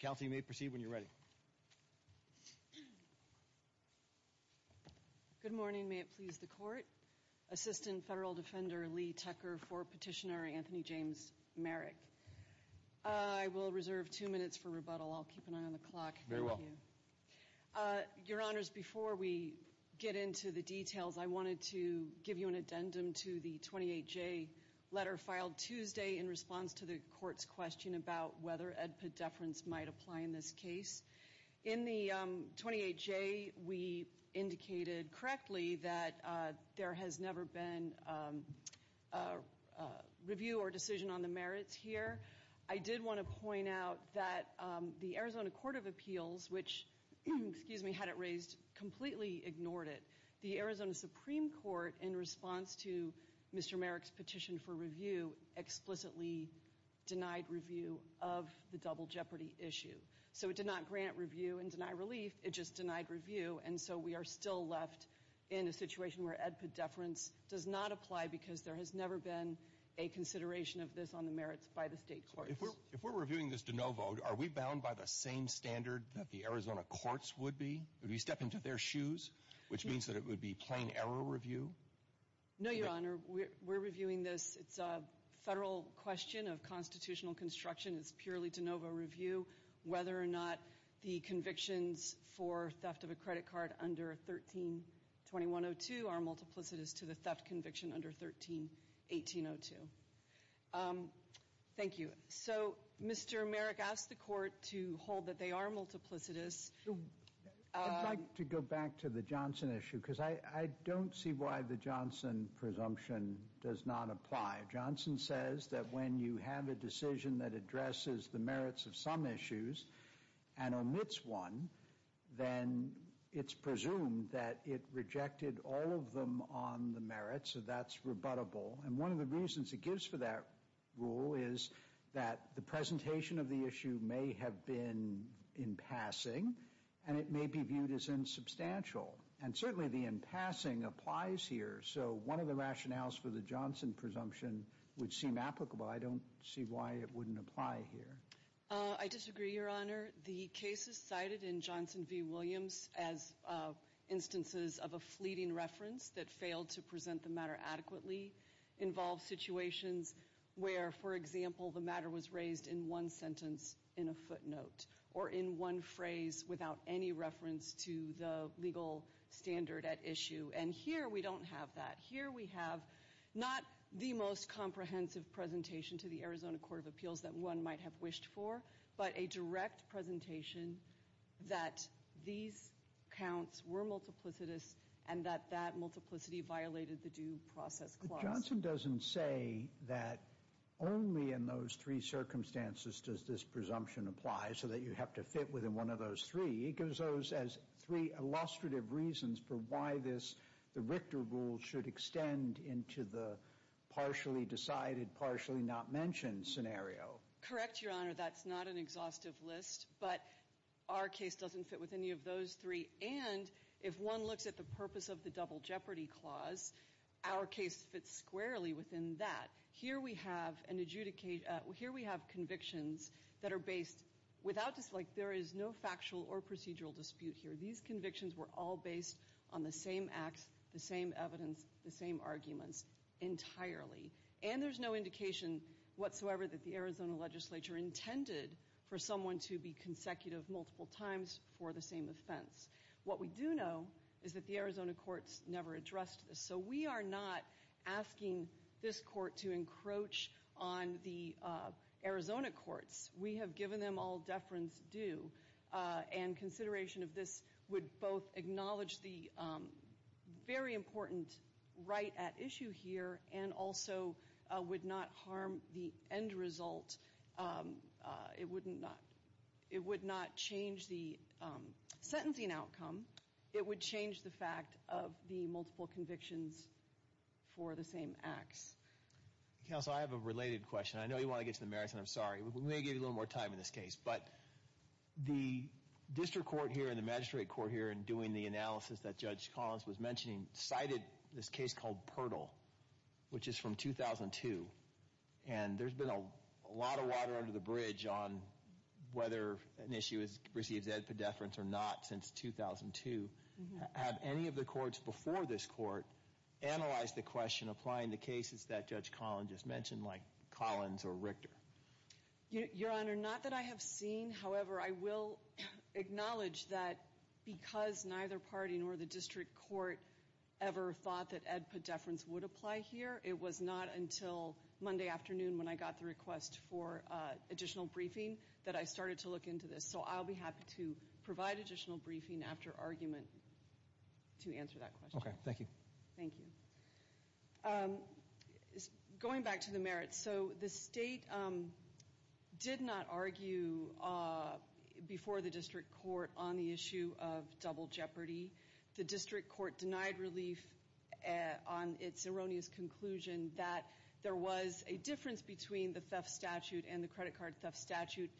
Kelsey, you may proceed when you're ready. Good morning. May it please the court? Assistant Federal Defender Lee Tucker for Petitioner Anthony James Merrick. I will reserve two minutes for rebuttal. I'll keep an eye on the clock. Your Honors, before we get into the details, I wanted to give you an addendum to the 28-J letter filed Tuesday in response to the court's question about whether EDPA deference might apply in this case. In the 28-J, we indicated correctly that there has never been a review or decision on the merits here. I did want to point out that the Arizona Court of Appeals, which, excuse me, had it raised, completely ignored it. The Arizona Supreme Court, in response to Mr. Merrick's petition for review, explicitly denied review of the double jeopardy issue. So, it did not grant review and deny relief. It just denied review. And so, we are still left in a situation where EDPA deference does not apply because there has never been a consideration of this on the merits by the state courts. If we're reviewing this de novo, are we bound by the same standard that the Arizona courts would be? Would we step into their shoes, which means that it would be plain error review? No, Your Honor. We're reviewing this. It's a federal question of constitutional construction. It's purely de novo review. Whether or not the convictions for theft of a credit card under 13-2102 are multiplicitous to the theft conviction under 13-1802. Thank you. So, Mr. Merrick asked the court to hold that they are multiplicitous. I'd like to go back to the Johnson issue because I don't see why the Johnson presumption does not apply. Johnson says that when you have a decision that addresses the merits of some issues and omits one, then it's presumed that it rejected all of them on the merits. So, that's rebuttable. And one of the reasons it gives for that rule is that the presentation of the issue may have been in passing and it may be viewed as insubstantial. And certainly, the in passing applies here. So, one of the rationales for the Johnson presumption would seem applicable. I don't see why it wouldn't apply here. I disagree, Your Honor. The cases cited in Johnson v. Williams as instances of a fleeting reference that failed to present the matter adequately involve situations where, for example, the matter was raised in one sentence in a footnote or in one phrase without any reference to the legal standard at issue. And here, we don't have that. Here, we have not the most comprehensive presentation to the Arizona Court of Appeals that one might have wished for, but a direct presentation that these counts were multiplicitous and that that multiplicity violated the due process clause. Johnson doesn't say that only in those three circumstances does this presumption apply so that you have to fit within one of those three. It gives those as three illustrative reasons for why this, the Richter rule, should extend into the partially decided, partially not mentioned scenario. Correct, Your Honor. That's not an exhaustive list, but our case doesn't fit with any of those three. And if one looks at the purpose of the double jeopardy clause, our case fits squarely within that. Here, we have an adjudication. Here, we have convictions that are based without dislike. There is no factual or procedural dispute here. These convictions were all based on the same acts, the same evidence, the same arguments entirely. And there's no indication whatsoever that the Arizona legislature intended for someone to be consecutive multiple times for the same offense. What we do know is that the Arizona courts never addressed this. So we are not asking this court to encroach on the Arizona courts. We have given them all deference due, and consideration of this would both acknowledge the very important right at issue here and also would not harm the end result. It would not change the sentencing outcome. It would change the fact of the multiple convictions for the same acts. Counsel, I have a related question. I know you want to get to the merits, and I'm sorry. We may give you a little more time in this case, but the district court here and the magistrate court here in doing the analysis that Judge Collins was mentioning cited this case called Purtle, which is from 2002. And there's been a lot of water under the bridge on whether an issue receives ed pedeference or not since 2002. Have any of the courts before this court analyzed the question applying the cases that Judge Collins just mentioned, like Collins or Richter? Your Honor, not that I have seen. However, I will acknowledge that because neither party nor the district court ever thought that ed pedeference would apply here. It was not until Monday afternoon when I got the request for additional briefing that I started to look into this. So I'll be happy to provide additional briefing after argument to answer that question. Okay. Thank you. Thank you. Going back to the merits, so the state did not argue before the district court on the issue of double jeopardy. The district court denied relief on its erroneous conclusion that there was a difference between the theft statute and the credit card theft statute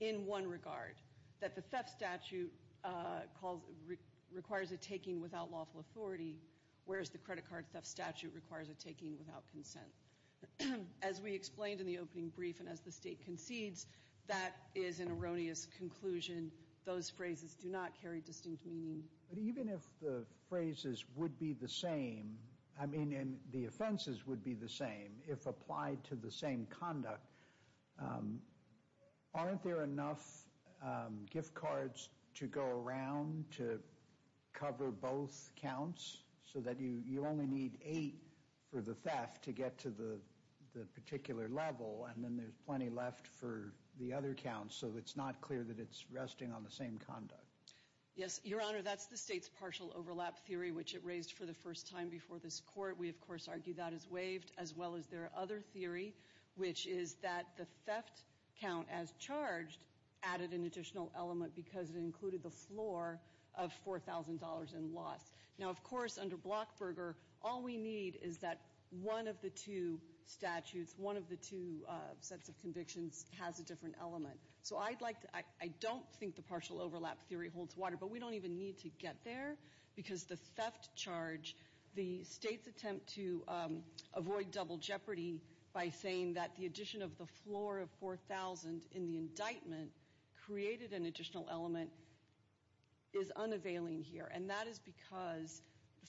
in one regard, that the theft statute requires a taking without lawful authority, whereas the credit card theft statute requires a taking without consent. As we explained in the opening brief and as the state concedes, that is an erroneous conclusion. Those phrases do not carry distinct meaning. But even if the phrases would be the same, I mean, and the offenses would be the same if applied to the same conduct, aren't there enough gift cards to go around to cover both counts so that you only need eight for the theft to get to the particular level? And then there's plenty left for the other counts. So it's not clear that it's resting on the same conduct. Yes, Your Honor, that's the state's partial overlap theory, which it raised for the first time before this court. We, of course, argue that is waived, as well as their other theory, which is that the theft count as charged added an additional element because it included the floor of $4,000 in loss. Now, of course, under Blockberger, all we need is that one of the two statutes, one of the two sets of convictions has a different element. So I don't think the partial overlap theory holds water. But we don't even need to get there because the theft charge, the state's attempt to avoid double jeopardy by saying that the addition of the floor of $4,000 in the indictment created an additional element is unavailing here. And that is because,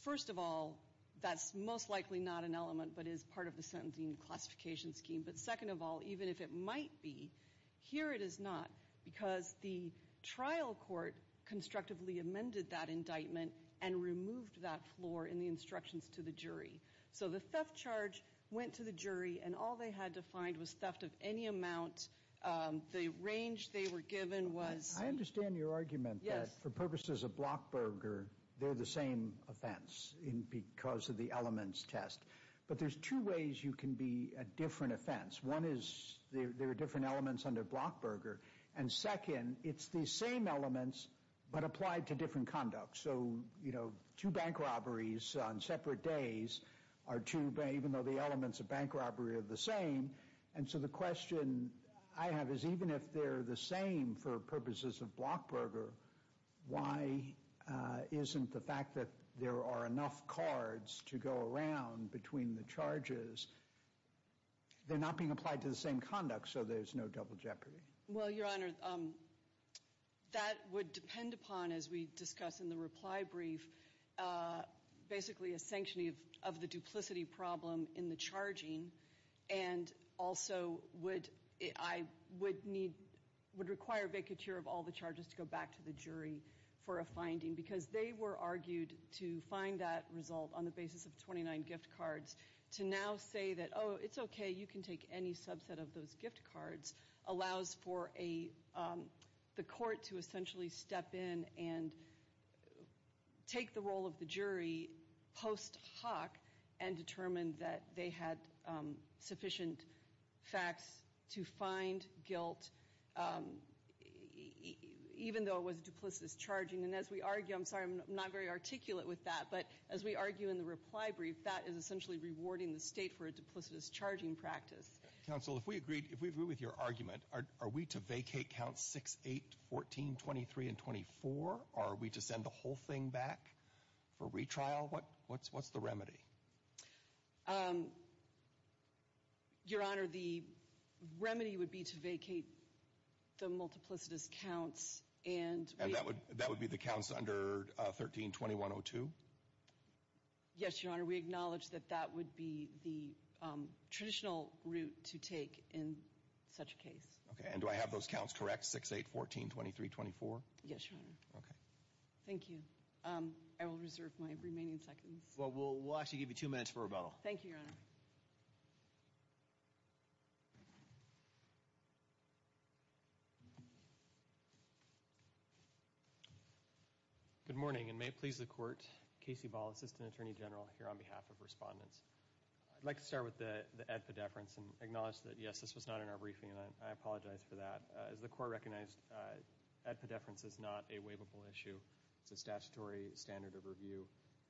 first of all, that's most likely not an element but is part of the sentencing classification scheme. But second of all, even if it might be, here it is not because the trial court constructively amended that indictment and removed that floor in the instructions to the jury. So the theft charge went to the jury and all they had to find was theft of any amount. The range they were given was... I understand your argument that for purposes of Blockberger, they're the same offense because of the elements test. But there's two ways you can be a different offense. One is there are different elements under Blockberger. And second, it's the same elements but applied to different conduct. So, you know, two bank robberies on separate days are two, even though the elements of bank robbery are the same. And so the question I have is even if they're the same for purposes of Blockberger, why isn't the fact that there are enough cards to go around between the charges, they're not being applied to the same conduct, so there's no double jeopardy? Well, Your Honor, that would depend upon, as we discuss in the reply brief, basically a sanctioning of the duplicity problem in the charging. And also, I would require vacature of all the charges to go back to the jury for a finding because they were argued to find that result on the basis of 29 gift cards. To now say that, oh, it's okay, you can take any subset of those gift cards, allows for the court to essentially step in and take the role of the jury post hoc and determine that they had sufficient facts to find guilt, even though it was duplicitous charging. And as we argue, I'm sorry, I'm not very articulate with that, but as we argue in the reply brief, that is essentially rewarding the state for a duplicitous charging practice. Counsel, if we agree with your argument, are we to vacate Counts 6, 8, 14, 23, and 24, or are we to send the whole thing back for retrial? What's the remedy? Your Honor, the remedy would be to vacate the multiplicitous counts and... And that would be the counts under 13-2102? Yes, Your Honor, we acknowledge that that would be the traditional route to take in such a case. Okay, and do I have those counts correct, 6, 8, 14, 23, 24? Yes, Your Honor. Okay. Thank you. I will reserve my remaining seconds. We'll actually give you two minutes for rebuttal. Thank you, Your Honor. Good morning, and may it please the Court, Casey Ball, Assistant Attorney General, here on behalf of respondents. I'd like to start with the ad pedeference and acknowledge that, yes, this was not in our briefing, and I apologize for that. As the Court recognized, ad pedeference is not a waivable issue. It's a statutory standard of review.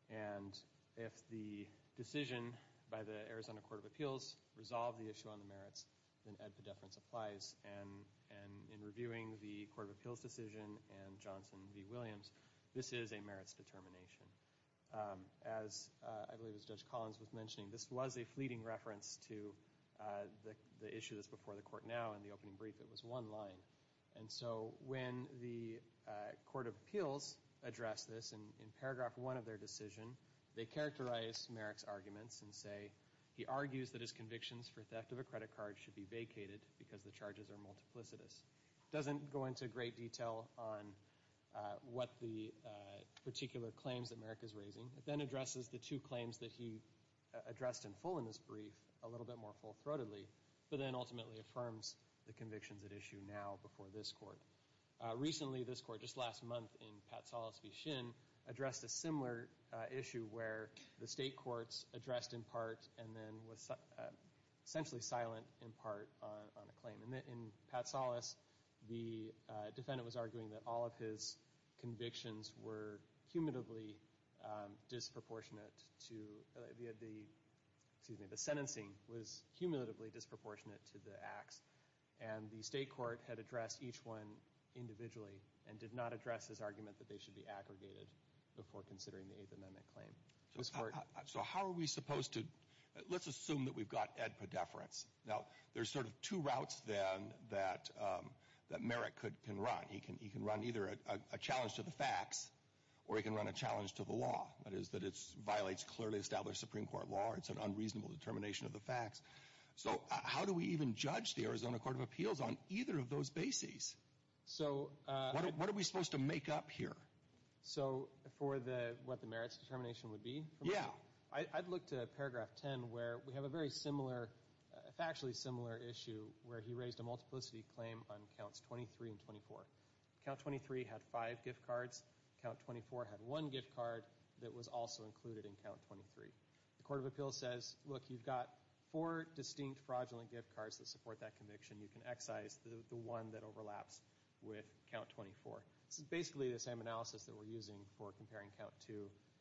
And if the decision by the Arizona Court of Appeals resolved the issue on the merits, then ad pedeference applies. And in reviewing the Court of Appeals decision and Johnson v. Williams, this is a merits determination. As I believe it was Judge Collins was mentioning, this was a fleeting reference to the issue that's before the Court now. In the opening brief, it was one line. And so when the Court of Appeals addressed this in paragraph one of their decision, they characterized Merrick's arguments and say, he argues that his convictions for theft of a credit card should be vacated because the charges are multiplicitous. It doesn't go into great detail on what the particular claims that Merrick is raising. It then addresses the two claims that he addressed in full in this brief a little bit more full-throatedly, but then ultimately affirms the convictions at issue now before this Court. Recently, this Court, just last month in Pat Salas v. Shin, addressed a similar issue where the state courts addressed in part and then was essentially silent in part on a claim. And in Pat Salas, the defendant was arguing that all of his convictions were cumulatively disproportionate to the acts. And the state court had addressed each one individually and did not address his argument that they should be aggregated before considering the Eighth Amendment claim. So how are we supposed to... Let's assume that we've got Ed Perdeference. Now, there's sort of two routes then that Merrick can run. He can run either a challenge to the facts or he can run a challenge to the law. That is, that it violates clearly established Supreme Court law or it's an unreasonable determination of the facts. So how do we even judge the Arizona Court of Appeals on either of those bases? So what are we supposed to make up here? So for what the merits determination would be? Yeah. I'd look to paragraph 10 where we have a very similar, factually similar issue where he raised a multiplicity claim on counts 23 and 24. Count 23 had five gift cards. Count 24 had one gift card that was also included in count 23. The Court of Appeals says, look, you've got four distinct fraudulent gift cards that support that conviction. You can excise the one that overlaps with count 24. This is basically the same analysis that we're using for comparing count 2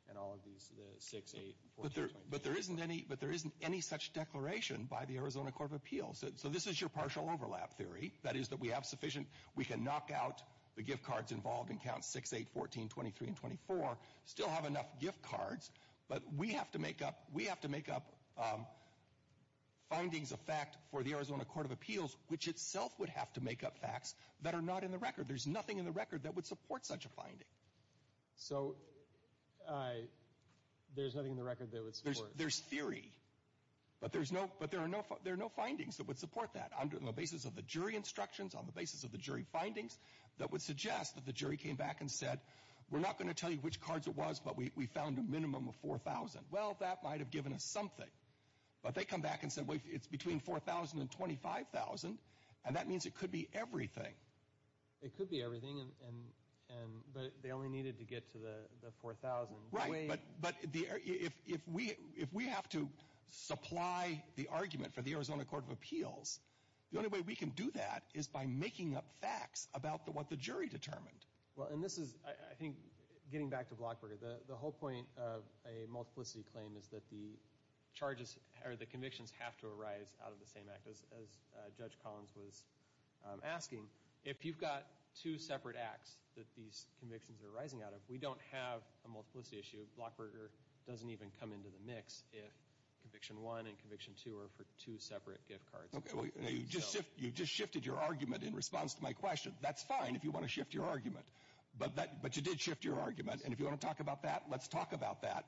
and all of these, the 6, 8, 14, 24. But there isn't any such declaration by the Arizona Court of Appeals. So this is your partial overlap theory. That is that we have sufficient... We can knock out the gift cards involved in count 6, 8, 14, 23, and 24. Still have enough gift cards. But we have to make up... We have to make up findings of fact for the Arizona Court of Appeals, which itself would have to make up facts that are not in the record. There's nothing in the record that would support such a finding. So there's nothing in the record that would support... There's theory. But there's no... But there are no findings that would support that. Under the basis of the jury instructions, on the basis of the jury findings, that would suggest that the jury came back and said, we're not going to tell you which cards it was, but we found a minimum of 4,000. Well, that might have given us something. But they come back and said, wait, it's between 4,000 and 25,000. And that means it could be everything. It could be everything. But they only needed to get to the 4,000. Right. But if we have to supply the argument for the Arizona Court of Appeals, the only way we can do that is by making up facts about what the jury determined. Well, and this is, I think, getting back to Blockberger, the whole point of a multiplicity claim is that the charges, or the convictions, have to arise out of the same act, as Judge Collins was asking. If you've got two separate acts that these convictions are arising out of, we don't have a multiplicity issue. Blockberger doesn't even come into the mix if Conviction 1 and Conviction 2 are for two separate gift cards. Okay, you just shifted your argument in response to my question. That's fine if you want to shift your argument. But you did shift your argument. And if you want to talk about that, let's talk about that.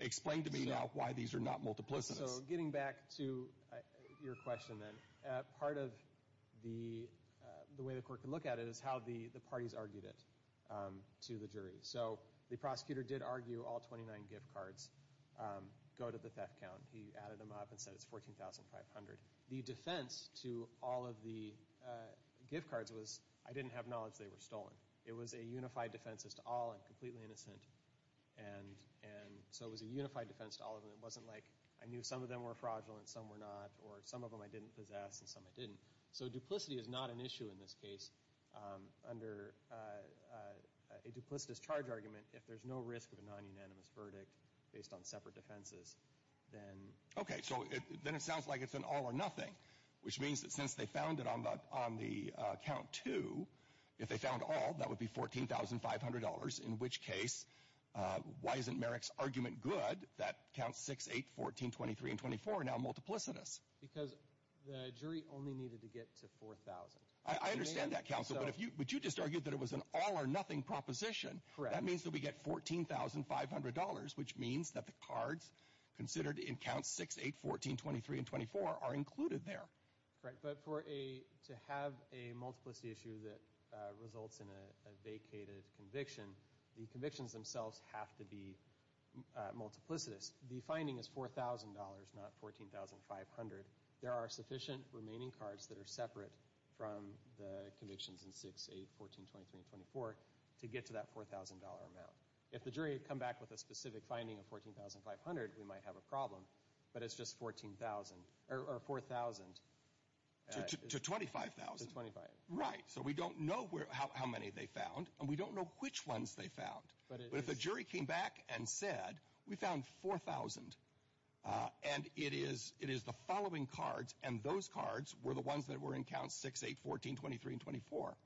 Explain to me now why these are not multiplicities. So, getting back to your question, then, part of the way the court can look at it is how the parties argued it to the jury. So, the prosecutor did argue all 29 gift cards go to the theft count. He added them up and said it's 14,500. The defense to all of the gift cards was, I didn't have knowledge they were stolen. It was a unified defense as to all. I'm completely innocent. And so, it was a unified defense to all of them. It wasn't like I knew some of them were fraudulent, some were not, or some of them I didn't possess, and some I didn't. So, duplicity is not an issue in this case. Under a duplicitous charge argument, if there's no risk of a non-unanimous verdict based on separate defenses, then... Which means that since they found it on the count two, if they found all, that would be $14,500, in which case, why isn't Merrick's argument good that counts 6, 8, 14, 23, and 24 are now multiplicitous? Because the jury only needed to get to 4,000. I understand that, counsel, but you just argued that it was an all-or-nothing proposition. Correct. That means that we get $14,500, which means that the cards considered in counts 6, 8, 14, 23, and 24 are included there. Correct. But to have a multiplicity issue that results in a vacated conviction, the convictions themselves have to be multiplicitous. The finding is $4,000, not $14,500. There are sufficient remaining cards that are separate from the convictions in 6, 8, 14, 23, and 24 to get to that $4,000 amount. If the jury had come back with a specific finding of $14,500, we might have a problem. But it's just $14,000, or $4,000. To $25,000. To $25,000. Right. So we don't know how many they found, and we don't know which ones they found. But if the jury came back and said, we found 4,000, and it is the following cards, and those cards were the ones that were in counts 6, 8, 14, 23, and 24,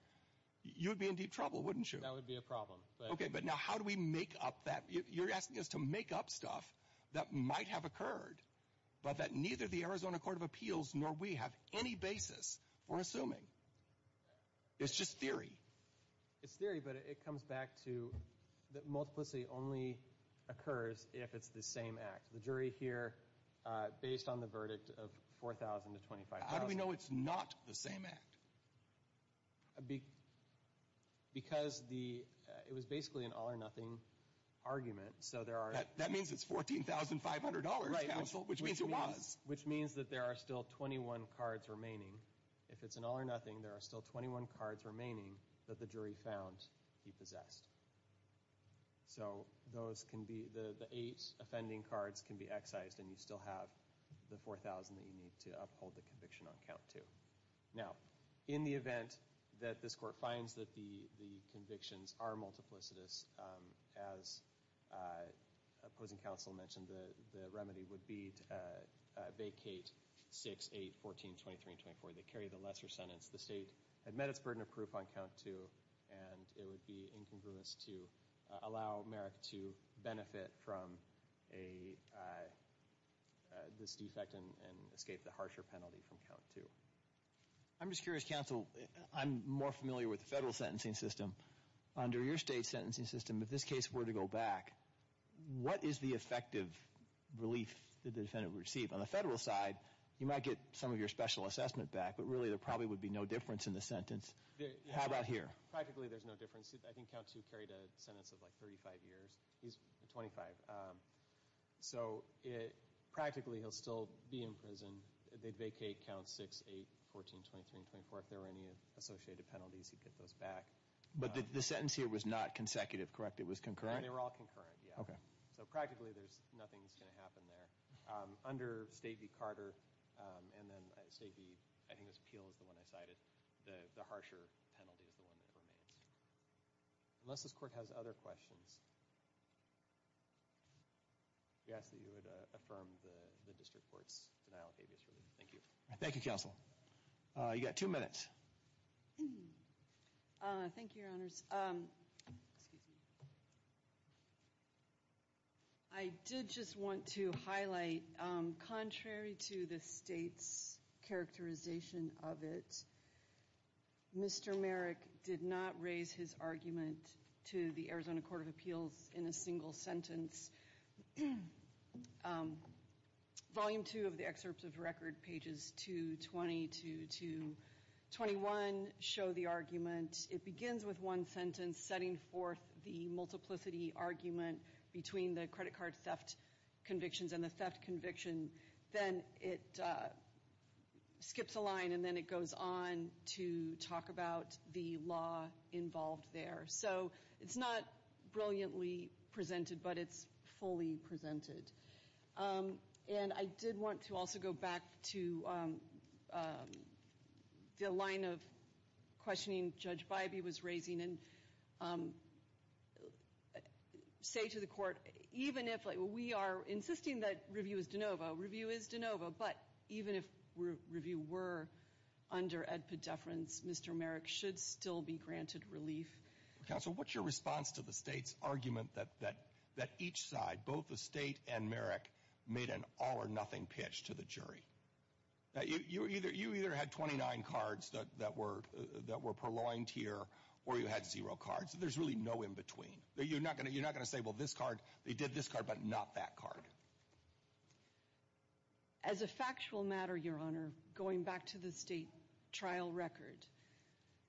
you'd be in deep trouble, wouldn't you? That would be a problem. Okay, but now how do we make up that? You're asking us to make up stuff that might have occurred, but that neither the Arizona Court of Appeals nor we have any basis for assuming. It's just theory. It's theory, but it comes back to that multiplicity only occurs if it's the same act. The jury here, based on the verdict of $4,000 to $25,000. How do we know it's not the same act? Because it was basically an all or nothing argument, so there are... That means it's $14,500, counsel, which means it was. Which means that there are still 21 cards remaining. If it's an all or nothing, there are still 21 cards remaining that the jury found he possessed. So the eight offending cards can be excised, and you still have the 4,000 that you need to uphold the conviction on count two. Now, in the event that this court finds that the convictions are multiplicitous, as opposing counsel mentioned, the remedy would be to vacate 6, 8, 14, 23, and 24. They carry the lesser sentence. The state had met its burden of proof on count two, and it would be incongruous to allow Merrick to benefit from this defect and escape the harsher penalty from count two. I'm just curious, counsel, I'm more familiar with the federal sentencing system. Under your state's sentencing system, if this case were to go back, what is the effective relief that the defendant would receive? On the federal side, you might get some of your special assessment back, but really there probably would be no difference in the sentence. How about here? Practically, there's no difference. I think count two carried a sentence of like 35 years. He's 25. So practically, he'll still be in prison. They'd vacate count 6, 8, 14, 23, and 24 if there were any associated penalties. He'd get those back. But the sentence here was not consecutive, correct? It was concurrent? They were all concurrent, yeah. Okay. So practically, nothing's going to happen there. Under State v. Carter, and then State v., I think it was Peel is the one I cited, the harsher penalty is the one that remains. Unless this court has other questions. You asked that you would affirm the district court's Thank you. Thank you, Counsel. You got two minutes. Thank you, Your Honors. I did just want to highlight, contrary to the State's characterization of it, Mr. Merrick did not raise his argument to the Arizona Court of Appeals in a single sentence. Volume 2 of the excerpt of the record, pages 220 to 221, show the argument. It begins with one sentence, setting forth the multiplicity argument between the credit card theft convictions and the theft conviction. Then it skips a line, and then it goes on to talk about the law involved there. So it's not brilliantly presented, but it's fully presented. And I did want to also go back to the line of questioning Judge Bybee was raising, and say to the court, even if we are insisting that review is de novo, review is de novo, but even if review were under ad podeferens, Mr. Merrick should still be granted relief. Counsel, what's your response to the State's argument that each side, both the State and Merrick, made an all-or-nothing pitch to the jury? You either had 29 cards that were purloined here, or you had zero cards. There's really no in-between. You're not going to say, well, this card, they did this card, but not that card. As a factual matter, Your Honor, going back to the State trial record,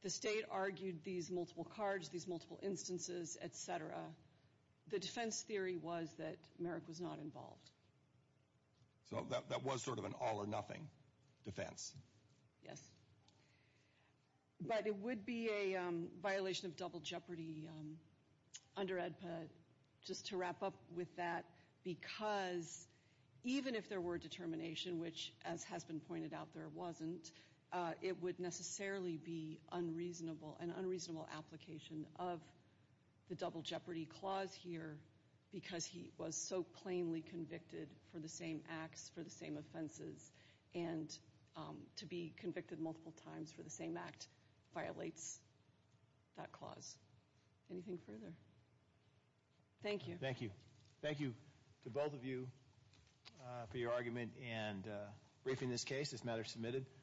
the State argued these multiple cards, these multiple instances, et cetera, the defense theory was that Merrick was not involved. So that was sort of an all-or-nothing defense? Yes. But it would be a violation of double jeopardy under ADPA, just to wrap up with that, because even if there were determination, which, as has been pointed out, there wasn't, it would necessarily be unreasonable, an unreasonable application of the double jeopardy clause here because he was so plainly convicted for the same acts, for the same offenses, and to be convicted multiple times for the same act violates that clause. Anything further? Thank you. Thank you. Thank you to both of you for your argument and briefing this case, this matter submitted.